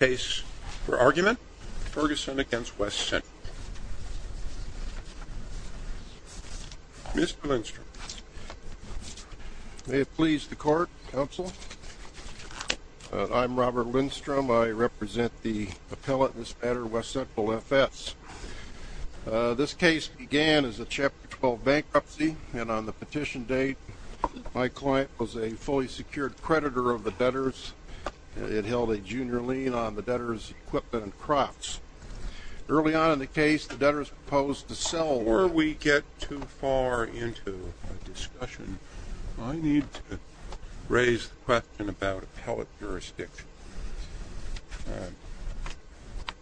Mr. Lindstrom. May it please the Court, Counsel. I'm Robert Lindstrom. I represent the appellate in this matter, West Central FS. This case began as a Chapter 12 bankruptcy, and on the petition date, my client was a fully secured creditor of the debtors. It held a junior lien on the debtors' equipment and crops. Early on in the case, the debtors proposed to sell... Before we get too far into a discussion, I need to raise the question about appellate jurisdiction.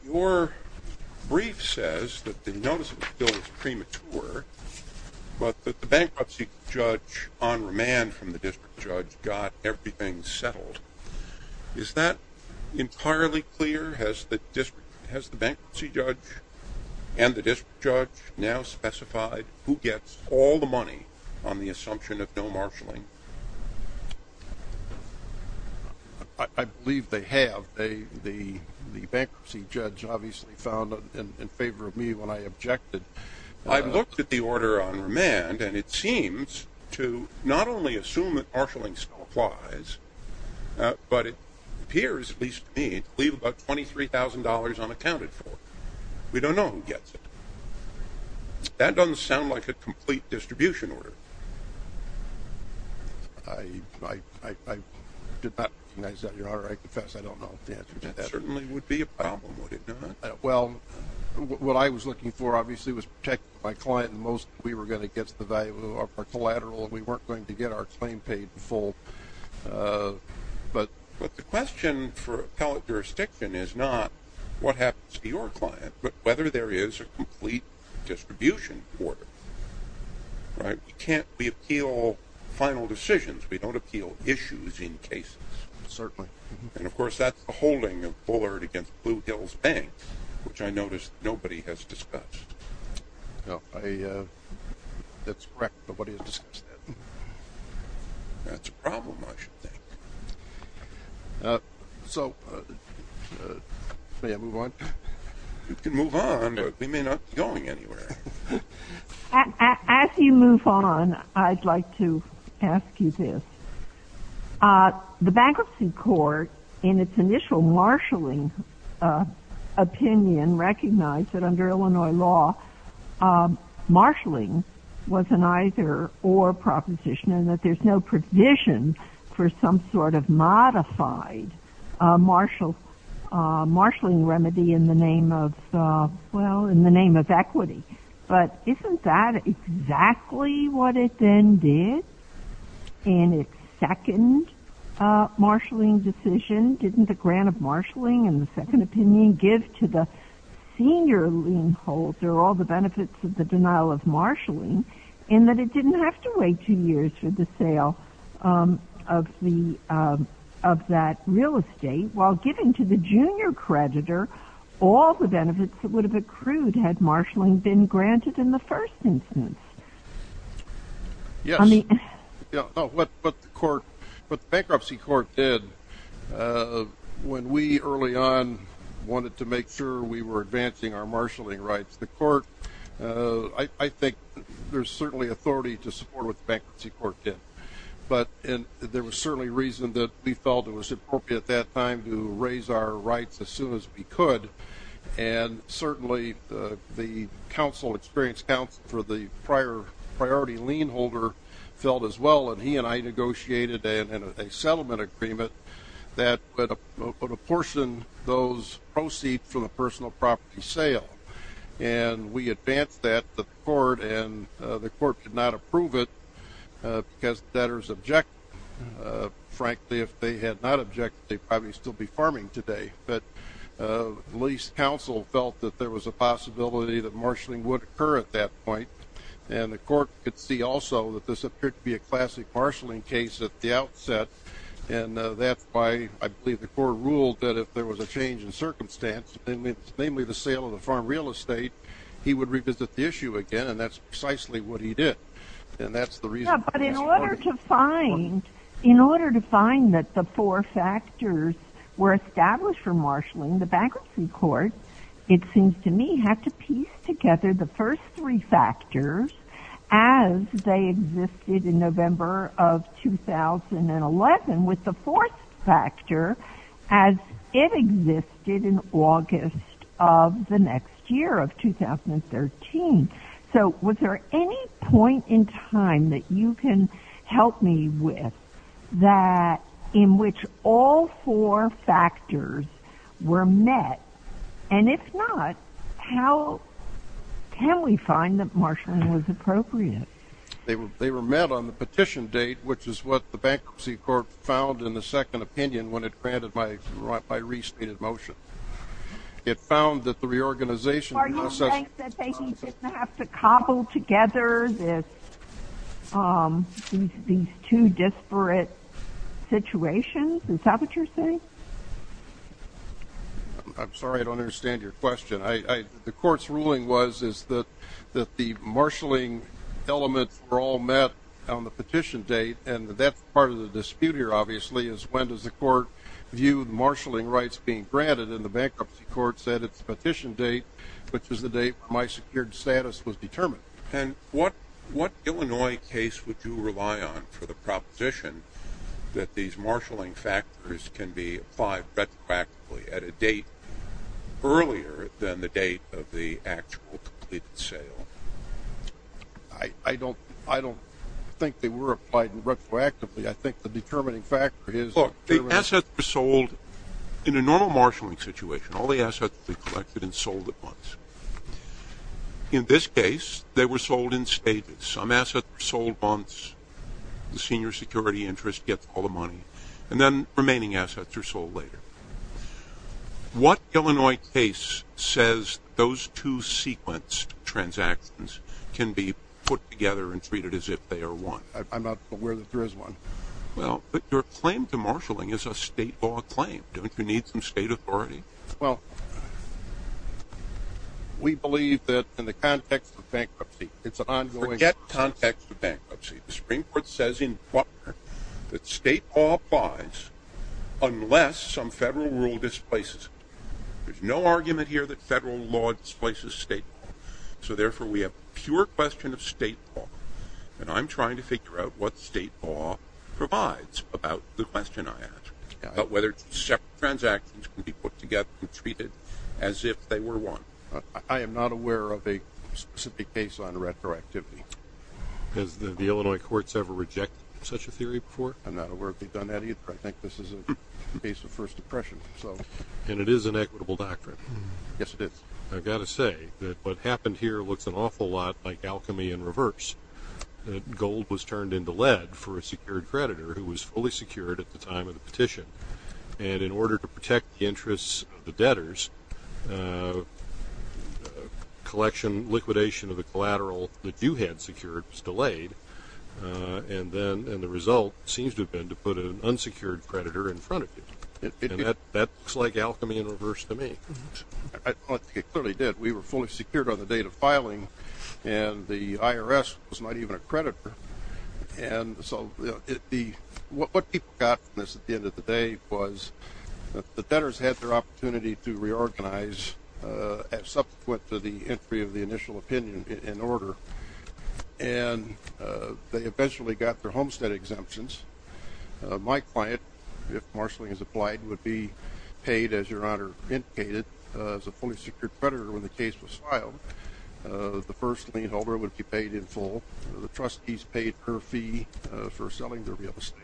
Your brief says that the notice of appeal is premature, but that the bankruptcy judge on remand from the district judge got everything settled. Is that entirely clear? Has the bankruptcy judge and the district judge now specified who gets all the money on the assumption of no marshaling? I believe they have. The bankruptcy judge obviously found in favor of me when I objected. I've looked at the order on remand, and it seems to not only assume that marshaling still applies, but it appears, at least to me, to leave about $23,000 unaccounted for. We don't know who gets it. That doesn't sound like a complete distribution order. I did not recognize that in your order. I confess I don't know the answer to that. It certainly would be a problem, would it not? Well, what I was looking for, obviously, was to protect my client. We were going to get the value of our collateral, and we weren't going to get our claim paid in full. But the question for appellate jurisdiction is not what happens to your client, but whether there is a complete distribution order. We appeal final decisions. We don't appeal issues in cases. Certainly. And, of course, that's a holding of Bullard against Blue Hills Bank, which I notice nobody has discussed. That's correct. Nobody has discussed that. That's a problem, I should think. So, may I move on? You can move on, but we may not be going anywhere. As you move on, I'd like to ask you this. The bankruptcy court, in its initial marshalling opinion, recognized that under Illinois law, marshalling was an either-or proposition, and that there's no provision for some sort of modified marshalling remedy in the name of equity. But isn't that exactly what it then did in its second marshalling decision? Didn't the grant of marshalling and the second opinion give to the senior lien holder all the benefits of the denial of marshalling, in that it didn't have to wait two years for the sale of that real estate, while giving to the junior creditor all the benefits it would have accrued had marshalling been granted in the first instance? Yes. But the bankruptcy court did. When we, early on, wanted to make sure we were advancing our marshalling rights, the court, I think there's certainly authority to support what the bankruptcy court did. But there was certainly reason that we felt it was appropriate at that time to raise our rights as soon as we could, and certainly the counsel, experienced counsel for the prior priority lien holder felt as well, and he and I negotiated a settlement agreement that would apportion those proceeds from the personal property sale. And we advanced that to the court, and the court could not approve it because debtors objected. Frankly, if they had not objected, they'd probably still be farming today. But the lease counsel felt that there was a possibility that marshalling would occur at that point, and the court could see also that this appeared to be a classic marshalling case at the outset, and that's why I believe the court ruled that if there was a change in circumstance, namely the sale of the farm real estate, he would revisit the issue again, and that's precisely what he did. And that's the reason. But in order to find that the four factors were established for marshalling, the bankruptcy court, it seems to me, had to piece together the first three factors as they existed in November of 2011 with the fourth factor as it existed in August of the next year of 2013. So was there any point in time that you can help me with that in which all four factors were met? And if not, how can we find that marshalling was appropriate? They were met on the petition date, which is what the bankruptcy court found in the second opinion when it granted my re-stated motion. It found that the reorganization of the process... Are you saying that they didn't have to cobble together these two disparate situations? Is that what you're saying? I'm sorry, I don't understand your question. The court's ruling was that the marshalling elements were all met on the petition date, and that's part of the dispute here, obviously, is when does the court view the marshalling rights being granted, and the bankruptcy court said it's the petition date, which is the date when my secured status was determined. And what Illinois case would you rely on for the proposition that these marshalling factors can be applied retroactively at a date earlier than the date of the actual completed sale? I don't think they were applied retroactively. I think the determining factor is... Look, the assets were sold in a normal marshalling situation. All the assets were collected and they were sold in stages. Some assets were sold once, the senior security interest gets all the money, and then remaining assets are sold later. What Illinois case says those two sequenced transactions can be put together and treated as if they are one? I'm not aware that there is one. Well, but your claim to marshalling is a state law claim. Don't you need some state authority? Well, we believe that in the context of bankruptcy, it's an ongoing... Forget context of bankruptcy. The Supreme Court says in Butler that state law applies unless some federal rule displaces it. There's no argument here that federal law displaces state law, so therefore we have a pure question of state law, and I'm trying to figure out what state law provides about the question I asked, about whether separate transactions can be put together and treated as if they were one. I am not aware of a specific case on retroactivity. Has the Illinois courts ever rejected such a theory before? I'm not aware they've done that either. I think this is a case of first impression. And it is an equitable doctrine. Yes, it is. I've got to say that what happened here looks an awful lot like alchemy in reverse. Gold was turned into lead for a secured creditor who was fully secured at the time of the petition, and in order to protect the interests of the debtors, collection, liquidation of the collateral that you had secured was delayed, and the result seems to have been to put an unsecured creditor in front of you. And that looks like alchemy in reverse to me. I think it clearly did. We were fully secured on the date of filing, and the IRS was not even a creditor. And so what people got from this at the end of the day was that the debtors had their opportunity to reorganize as subsequent to the entry of the initial opinion in order, and they eventually got their homestead exemptions. My client, if marshaling is applied, would be paid, as Your Honor indicated, as a fully secured creditor when the case was filed. The first lien holder would be paid in full. The trustees paid her fee for selling the real estate.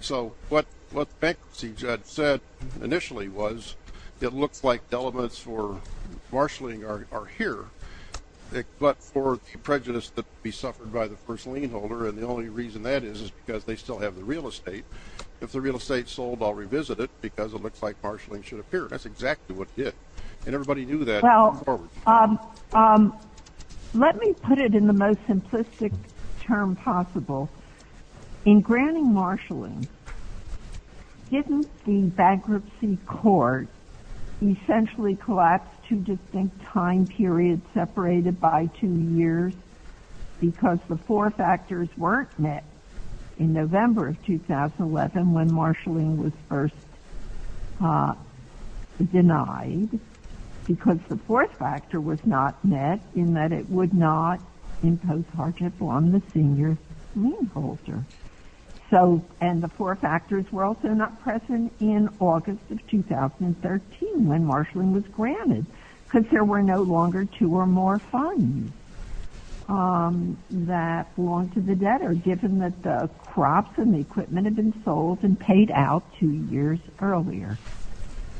So what the bankruptcy judge said initially was it looks like the elements for marshaling are here, but for the prejudice that would be suffered by the first lien holder, and the only reason that is is because they still have the real estate. If the real estate's sold, I'll revisit it because it looks like marshaling should appear. That's exactly what it did, and everybody knew that. Now, let me put it in the most simplistic term possible. In granting marshaling, didn't the bankruptcy court essentially collapse two distinct time periods separated by two years because the four factors weren't met in November of 2011 when marshaling was first denied because the fourth factor was not met in that it would not impose hardship on the senior lien holder. So, and the four factors were also not present in August of 2013 when marshaling was granted because there were no longer two or more funds that belonged to the debtor given that the crops and the equipment had been sold and paid out two years earlier.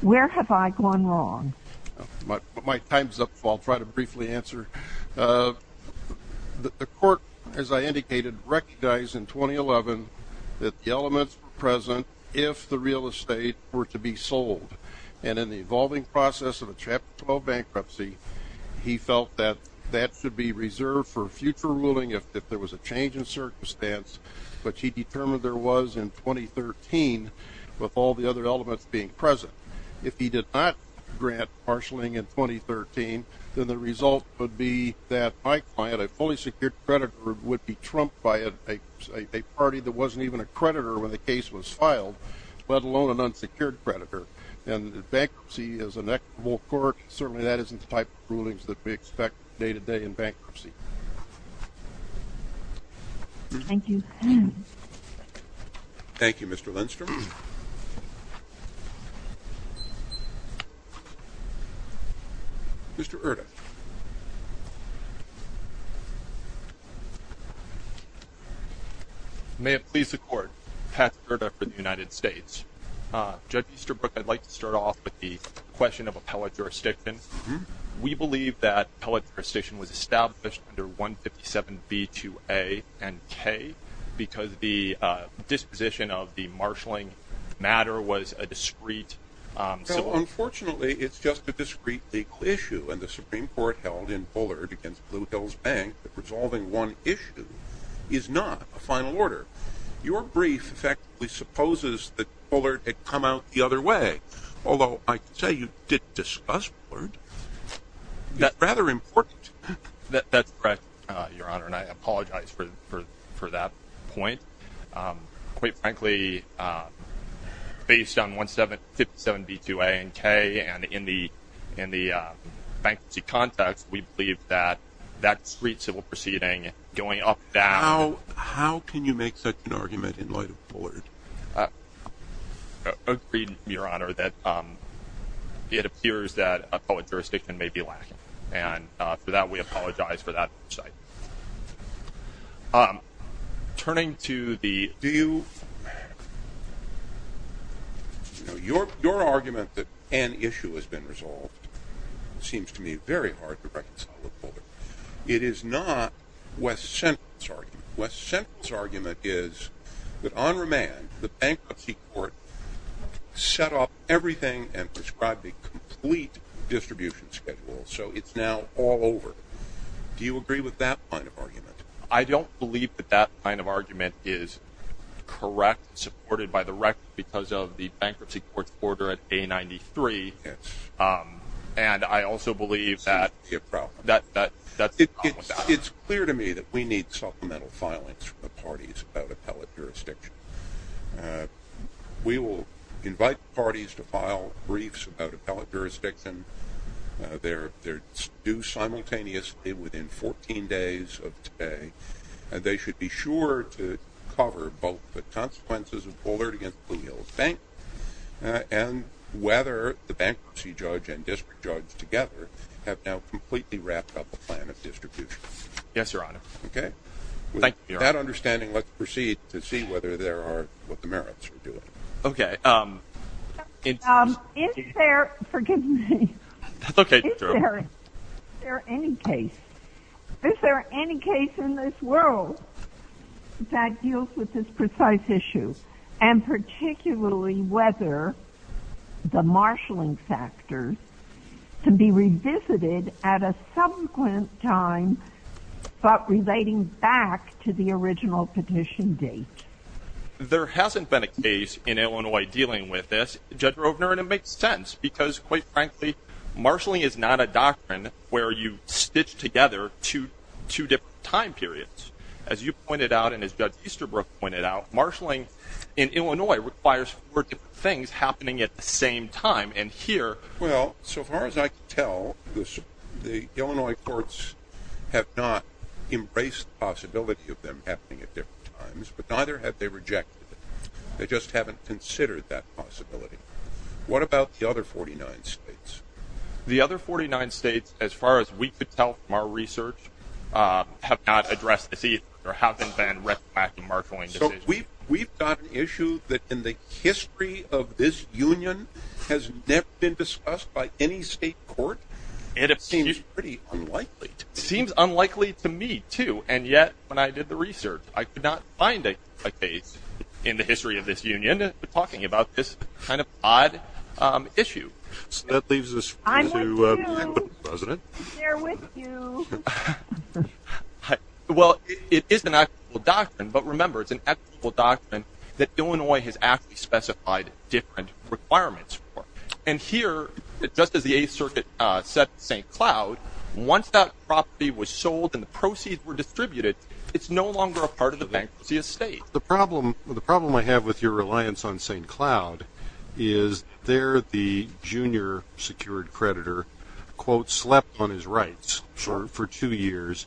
Where have I gone wrong? My time's up, so I'll try to briefly answer. The court, as I indicated, recognized in 2011 that the elements were present if the real estate were to be sold, and in the evolving process of a Chapter 12 bankruptcy, he felt that that should be reserved for future ruling if there was a change in circumstance, which he determined there was in 2013 with all the other elements being present. If he did not grant marshaling in 2013, then the result would be that my client, a fully secured creditor, would be trumped by a party that wasn't even a creditor when the case was filed, let alone an unsecured creditor. And bankruptcy is an equitable court. Certainly that isn't the type of rulings that we expect day-to-day in bankruptcy. Thank you. Thank you, Mr. Lindstrom. Mr. Erta. May it please the Court, Patrick Erta for the United States. Judge Easterbrook, I'd like to start off with the question of appellate jurisdiction. We believe that appellate jurisdiction was established under 157B2A and K because the disposition of the marshaling matter was a discreet civil- Well, unfortunately, it's just a discreet legal issue, and the Supreme Court held in Bullard against Blue Hills Bank that resolving one issue is not a final order. Your brief effectively supposes that Bullard had come out the other way, although I can say you did discuss Bullard. It's rather important. That's correct, Your Honor, and I apologize for that point. Quite frankly, based on 157B2A and K and in the bankruptcy context, we believe that that discreet civil proceeding going up and down- How can you make such an argument in light of Bullard? Agreed, Your Honor, that it appears that appellate jurisdiction may be lacking, and for that we apologize for that point. Turning to the- Do you- Your argument that an issue has been resolved seems to me very hard to reconcile with Bullard. It is not West Central's argument. West Central's argument is that on remand, the bankruptcy court set off everything and prescribed a complete distribution schedule, so it's now all over. Do you agree with that kind of argument? I don't believe that that kind of argument is correct and supported by the record because of the bankruptcy court's order at A93, and I also believe that- That seems to be a problem. It's clear to me that we need supplemental filings from the parties about appellate jurisdiction. We will invite parties to file briefs about appellate jurisdiction. They're due simultaneously within 14 days of today. They should be sure to cover both the consequences of Bullard against Blue Hills Bank and whether the bankruptcy judge and district judge together have now completely wrapped up a plan of distribution. Yes, Your Honor. Okay. Thank you, Your Honor. With that understanding, let's proceed to see whether there are-what the merits are to it. Okay. Is there-forgive me. That's okay. Is there any case-is there any case in this world that deals with this precise issue and particularly whether the marshaling factors can be revisited at a subsequent time but relating back to the original petition date? There hasn't been a case in Illinois dealing with this, Judge Rovner, and it makes sense because, quite frankly, marshaling is not a doctrine where you stitch together two different time periods. As you pointed out and as Judge Easterbrook pointed out, marshaling in Illinois requires four different things happening at the same time, and here- Well, so far as I can tell, the Illinois courts have not embraced the possibility of them happening at different times, but neither have they rejected it. They just haven't considered that possibility. What about the other 49 states? The other 49 states, as far as we could tell from our research, have not addressed this either or haven't been reflecting marshaling decisions. We've got an issue that in the history of this union has never been discussed by any state court. It seems pretty unlikely. It seems unlikely to me, too, and yet when I did the research, I could not find a case in the history of this union talking about this kind of odd issue. So that leaves us to- I want to share with you- But remember, it's an equitable doctrine that Illinois has actually specified different requirements for, and here, just as the Eighth Circuit said to St. Cloud, once that property was sold and the proceeds were distributed, it's no longer a part of the bankruptcy estate. The problem I have with your reliance on St. Cloud is there the junior secured creditor slept on his rights for two years.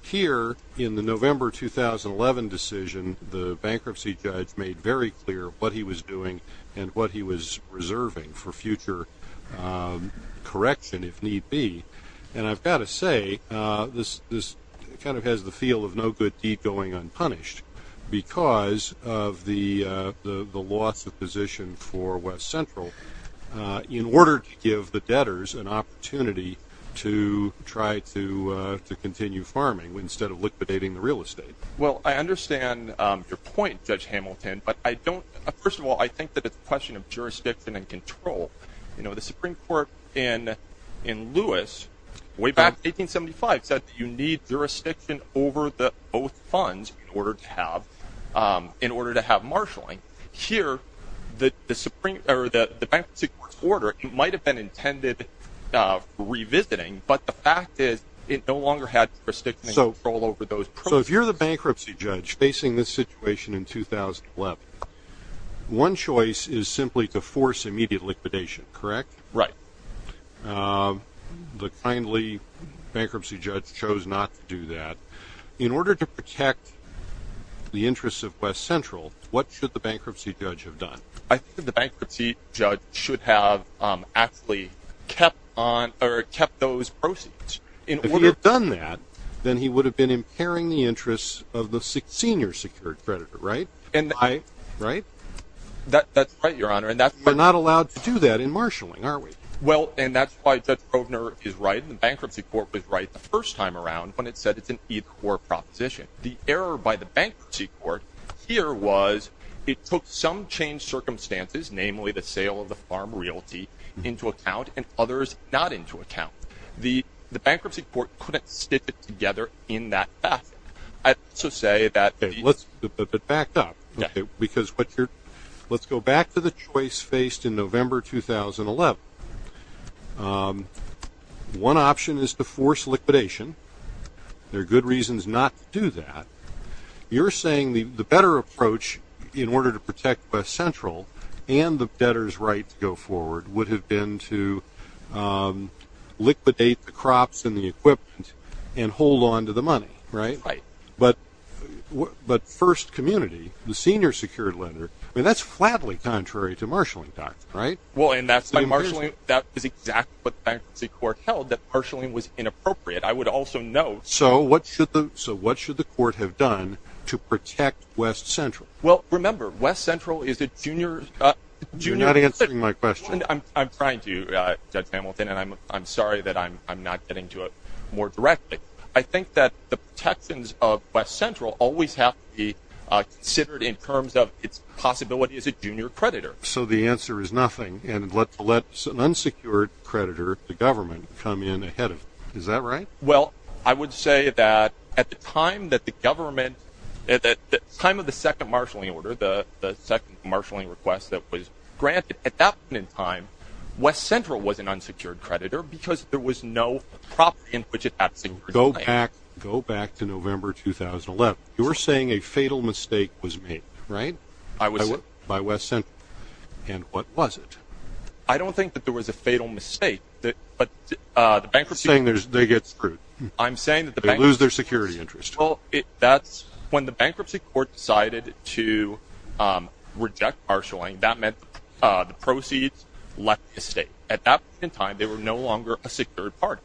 Here, in the November 2011 decision, the bankruptcy judge made very clear what he was doing and what he was reserving for future correction, if need be. And I've got to say, this kind of has the feel of no good deed going unpunished because of the loss of position for West Central. In order to give the debtors an opportunity to try to continue farming instead of liquidating the real estate. Well, I understand your point, Judge Hamilton, but I don't- First of all, I think that it's a question of jurisdiction and control. The Supreme Court in Lewis, way back in 1875, said that you need jurisdiction over both funds in order to have marshalling. Here, the bankruptcy court's order might have been intended for revisiting, but the fact is it no longer had prestigious control over those proceeds. So if you're the bankruptcy judge facing this situation in 2011, one choice is simply to force immediate liquidation, correct? Right. The kindly bankruptcy judge chose not to do that. In order to protect the interests of West Central, what should the bankruptcy judge have done? I think the bankruptcy judge should have actually kept those proceeds. If he had done that, then he would have been impairing the interests of the senior secured creditor, right? That's right, Your Honor. We're not allowed to do that in marshalling, are we? Well, and that's why Judge Provener is right, and the bankruptcy court was right the first time around when it said it's an either-or proposition. The error by the bankruptcy court here was it took some changed circumstances, namely the sale of the farm realty into account and others not into account. The bankruptcy court couldn't stick it together in that fashion. I'd also say that the- Okay, but back up. Because what you're- let's go back to the choice faced in November 2011. One option is to force liquidation. There are good reasons not to do that. You're saying the better approach in order to protect West Central and the debtor's right to go forward would have been to liquidate the crops and the equipment and hold on to the money, right? Right. But First Community, the senior secured lender, that's flatly contrary to marshalling doctrine, right? Well, and that's by marshalling. That is exactly what the bankruptcy court held, that marshalling was inappropriate. I would also note- So what should the court have done to protect West Central? Well, remember, West Central is a junior- You're not answering my question. I'm trying to, Judge Hamilton, and I'm sorry that I'm not getting to it more directly. I think that the protections of West Central always have to be considered in terms of its possibility as a junior creditor. So the answer is nothing, and let an unsecured creditor, the government, come in ahead of it. Is that right? Well, I would say that at the time that the government, at the time of the second marshalling order, the second marshalling request that was granted, at that point in time, West Central was an unsecured creditor because there was no property in which it had secured- Go back to November 2011. You're saying a fatal mistake was made, right? I was- By West Central. And what was it? I don't think that there was a fatal mistake, but the bankruptcy- You're saying they get screwed. I'm saying that the bankruptcy- They lose their security interest. Well, when the bankruptcy court decided to reject marshalling, that meant the proceeds left the state. At that point in time, they were no longer a secured party.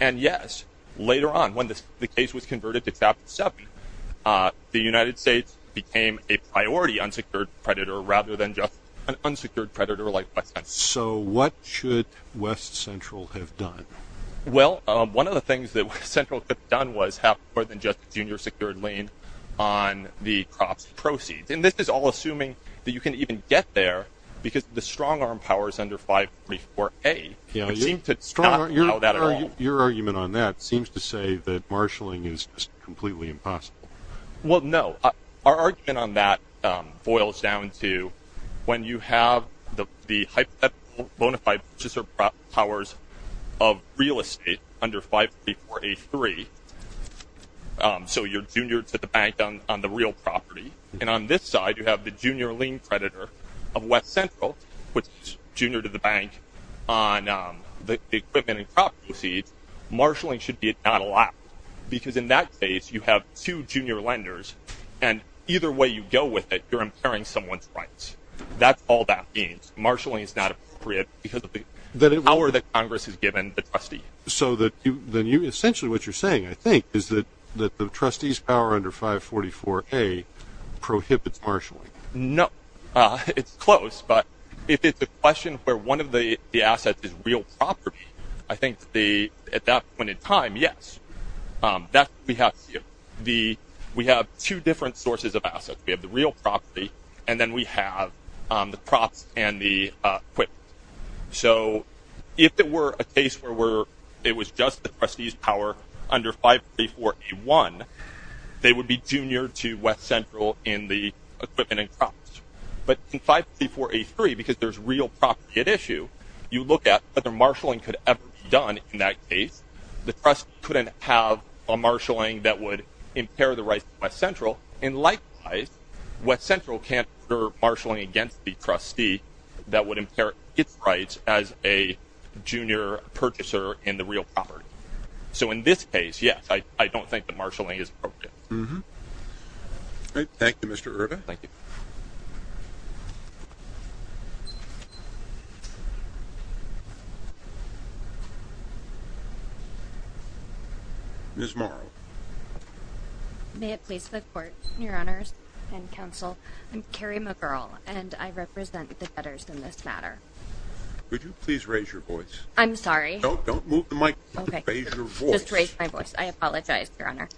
And, yes, later on, when the case was converted to Chapter 7, the United States became a priority unsecured creditor rather than just an unsecured creditor like West Central. So what should West Central have done? Well, one of the things that West Central could have done was have more than just a junior secured lien on the crops proceeds. And this is all assuming that you can even get there because the strong-arm powers under 544A- Your argument on that seems to say that marshalling is just completely impossible. Well, no. Our argument on that boils down to when you have the hypothetical bona fide powers of real estate under 544A-3, so you're junior to the bank on the real property. And on this side, you have the junior lien creditor of West Central, which is junior to the bank on the equipment and crop proceeds. Marshalling should be at not allowed because in that case, you have two junior lenders. And either way you go with it, you're impairing someone's rights. That's all that means. Marshalling is not appropriate because of the power that Congress has given the trustee. Essentially what you're saying, I think, is that the trustee's power under 544A prohibits marshalling. No, it's close. But if it's a question where one of the assets is real property, I think at that point in time, yes. We have two different sources of assets. We have the real property and then we have the crops and the equipment. So if it were a case where it was just the trustee's power under 544A-1, they would be junior to West Central in the equipment and crops. But in 544A-3, because there's real property at issue, you look at whether marshalling could ever be done in that case. The trust couldn't have a marshalling that would impair the rights of West Central. And likewise, West Central can't order marshalling against the trustee that would impair its rights as a junior purchaser in the real property. So in this case, yes, I don't think that marshalling is appropriate. Thank you, Mr. Erba. Thank you. Ms. Morrow. May it please the Court, Your Honors and Counsel. I'm Carrie McGurl, and I represent the debtors in this matter. Could you please raise your voice? I'm sorry. Don't move the mic. Okay. Raise your voice. Just raise my voice. I apologize, Your Honor.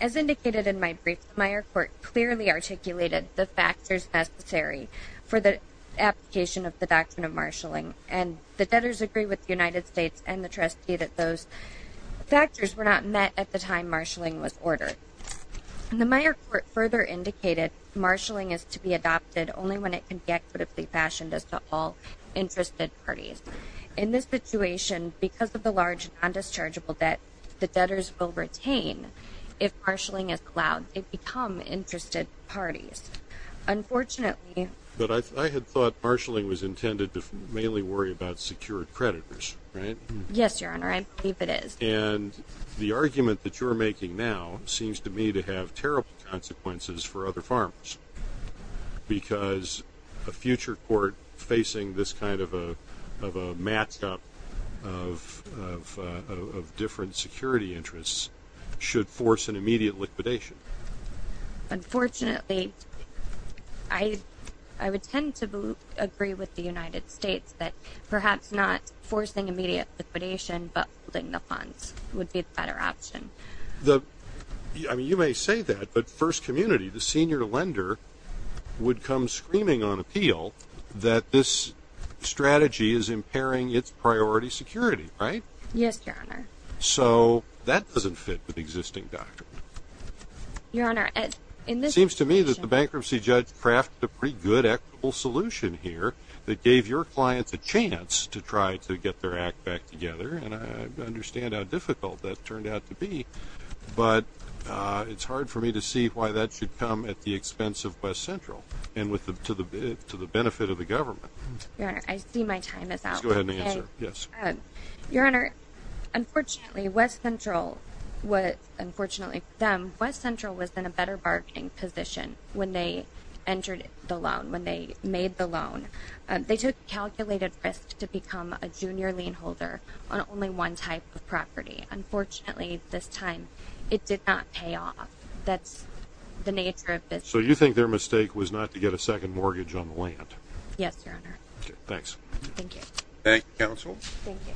As indicated in my brief, the Meyer Court clearly articulated the factors necessary for the application of the Doctrine of Marshalling. And the debtors agree with the United States and the trustee that those factors were not met at the time marshalling was ordered. And the Meyer Court further indicated marshalling is to be adopted only when it can be equitably fashioned as to all interested parties. In this situation, because of the large non-dischargeable debt, the debtors will retain if marshalling is allowed. They become interested parties. Unfortunately. But I had thought marshalling was intended to mainly worry about secured creditors, right? Yes, Your Honor. I believe it is. And the argument that you're making now seems to me to have terrible consequences for other farmers, because a future court facing this kind of a match-up of different security interests should force an immediate liquidation. Unfortunately, I would tend to agree with the United States that perhaps not forcing immediate liquidation but holding the funds would be a better option. I mean, you may say that, but First Community, the senior lender, would come screaming on appeal that this strategy is impairing its priority security, right? Yes, Your Honor. So that doesn't fit with existing doctrine. Your Honor, in this situation. It seems to me that the bankruptcy judge crafted a pretty good equitable solution here that gave your clients a chance to try to get their act back together, and I understand how difficult that turned out to be. But it's hard for me to see why that should come at the expense of West Central and to the benefit of the government. Your Honor, I see my time is out. Please go ahead and answer. Yes. Your Honor, unfortunately, West Central was in a better bargaining position when they entered the loan, when they made the loan. They took calculated risk to become a junior lien holder on only one type of property. Unfortunately, this time it did not pay off. That's the nature of business. So you think their mistake was not to get a second mortgage on the land? Okay, thanks. Thank you. Thank you, counsel. Thank you.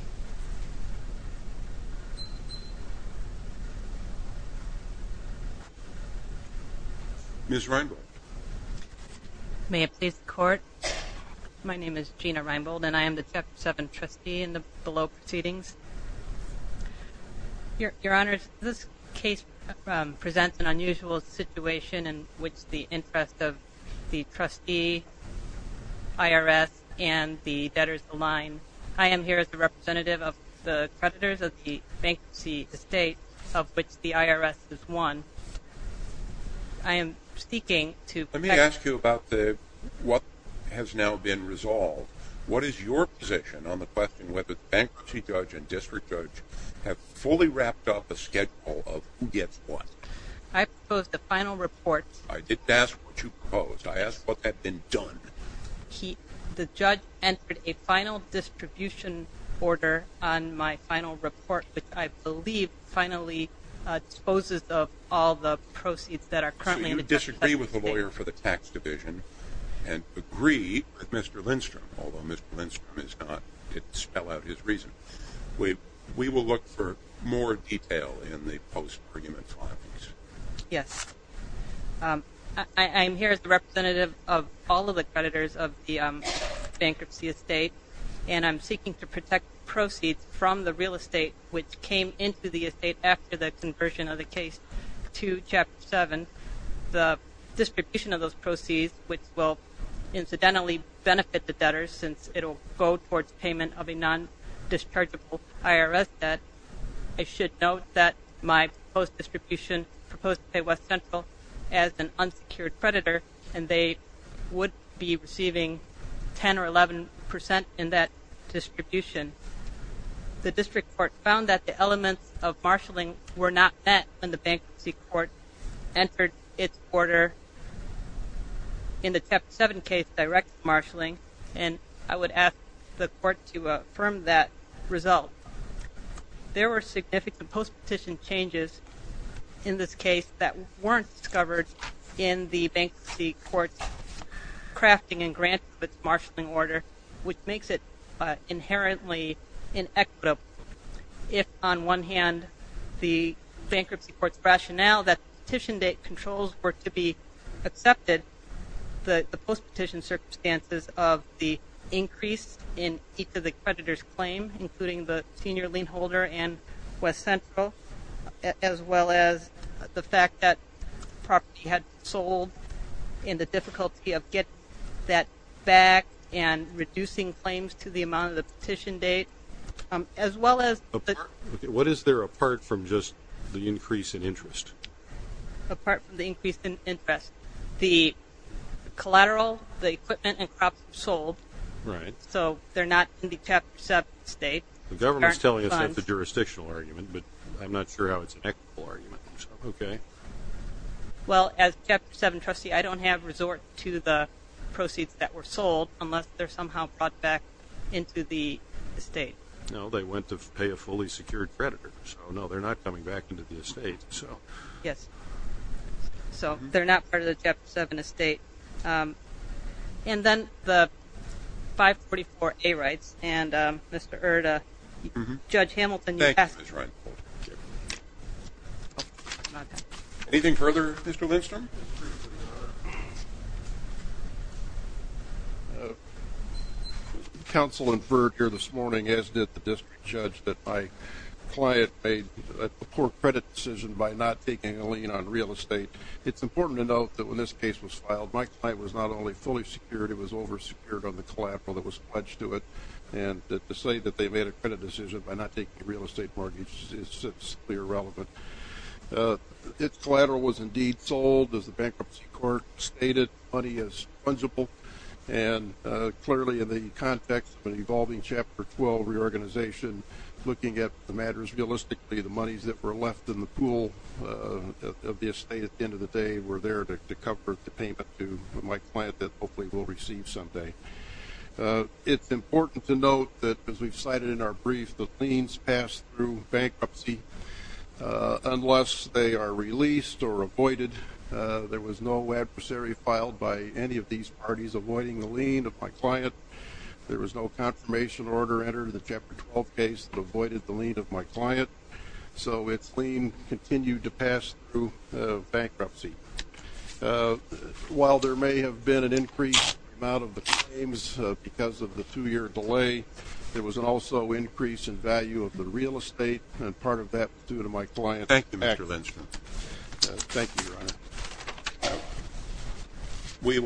Ms. Reinbold. May it please the Court? My name is Gina Reinbold, and I am the Chapter 7 trustee in the below proceedings. Your Honor, this case presents an unusual situation in which the interest of the trustee, IRS, and the debtors align. I am here as the representative of the creditors of the bankruptcy estate of which the IRS is one. I am seeking to ask you about the – Let me ask you about what has now been resolved. What is your position on the question whether the bankruptcy judge and district judge have fully wrapped up a schedule of who gets what? I proposed a final report. I didn't ask what you proposed. I asked what had been done. The judge entered a final distribution order on my final report, which I believe finally exposes all the proceeds that are currently in the – I disagree with the lawyer for the tax division and agree with Mr. Lindstrom, although Mr. Lindstrom did not spell out his reason. We will look for more detail in the post-prerogative findings. Yes. I am here as the representative of all of the creditors of the bankruptcy estate, and I'm seeking to protect proceeds from the real estate which came into the estate after the conversion of the case to Chapter 7. The distribution of those proceeds, which will incidentally benefit the debtors since it will go towards payment of a non-dischargeable IRS debt, I should note that my post-distribution proposed to pay West Central as an unsecured creditor, and they would be receiving 10 or 11 percent in that distribution. The district court found that the elements of marshalling were not met when the bankruptcy court entered its order in the Chapter 7 case directed marshalling, and I would ask the court to affirm that result. There were significant post-petition changes in this case that weren't discovered in the bankruptcy court's crafting and granting of its marshalling order, which makes it inherently inequitable. If, on one hand, the bankruptcy court's rationale that petition date controls were to be accepted, the post-petition circumstances of the increase in each of the creditors' claims, including the senior lien holder and West Central, as well as the fact that property had been sold and the difficulty of getting that back and reducing claims to the amount of the petition date, as well as... What is there apart from just the increase in interest? Apart from the increase in interest, the collateral, the equipment, and crops were sold. Right. So they're not in the Chapter 7 estate. The government's telling us that's a jurisdictional argument, but I'm not sure how it's an equitable argument. Okay. Well, as Chapter 7 trustee, I don't have resort to the proceeds that were sold unless they're somehow brought back into the estate. No, they went to pay a fully secured creditor, so no, they're not coming back into the estate. Yes. So they're not part of the Chapter 7 estate. And then the 544A rights. And, Mr. Erda, Judge Hamilton, you passed it. Thank you, Ms. Reinhold. Anything further, Mr. Lindstrom? Counsel inferred here this morning, as did the district judge, that my client made a poor credit decision by not taking a lien on real estate. It's important to note that when this case was filed, my client was not only fully secured, it was oversecured on the collateral that was pledged to it. And to say that they made a credit decision by not taking a real estate mortgage is simply irrelevant. Its collateral was indeed sold, as the Bankruptcy Court stated. The money is fungible. And clearly, in the context of an evolving Chapter 12 reorganization, looking at the matters realistically, the monies that were left in the pool of the estate at the end of the day were there to cover the payment to my client that hopefully we'll receive someday. It's important to note that, as we've cited in our brief, the liens pass through bankruptcy unless they are released or avoided. There was no adversary filed by any of these parties avoiding the lien of my client. There was no confirmation order entered in the Chapter 12 case that avoided the lien of my client. So its lien continued to pass through bankruptcy. While there may have been an increase in the amount of the claims because of the two-year delay, there was also an increase in value of the real estate, and part of that was due to my client's actions. Thank you, Mr. Lindstrom. Thank you, Your Honor.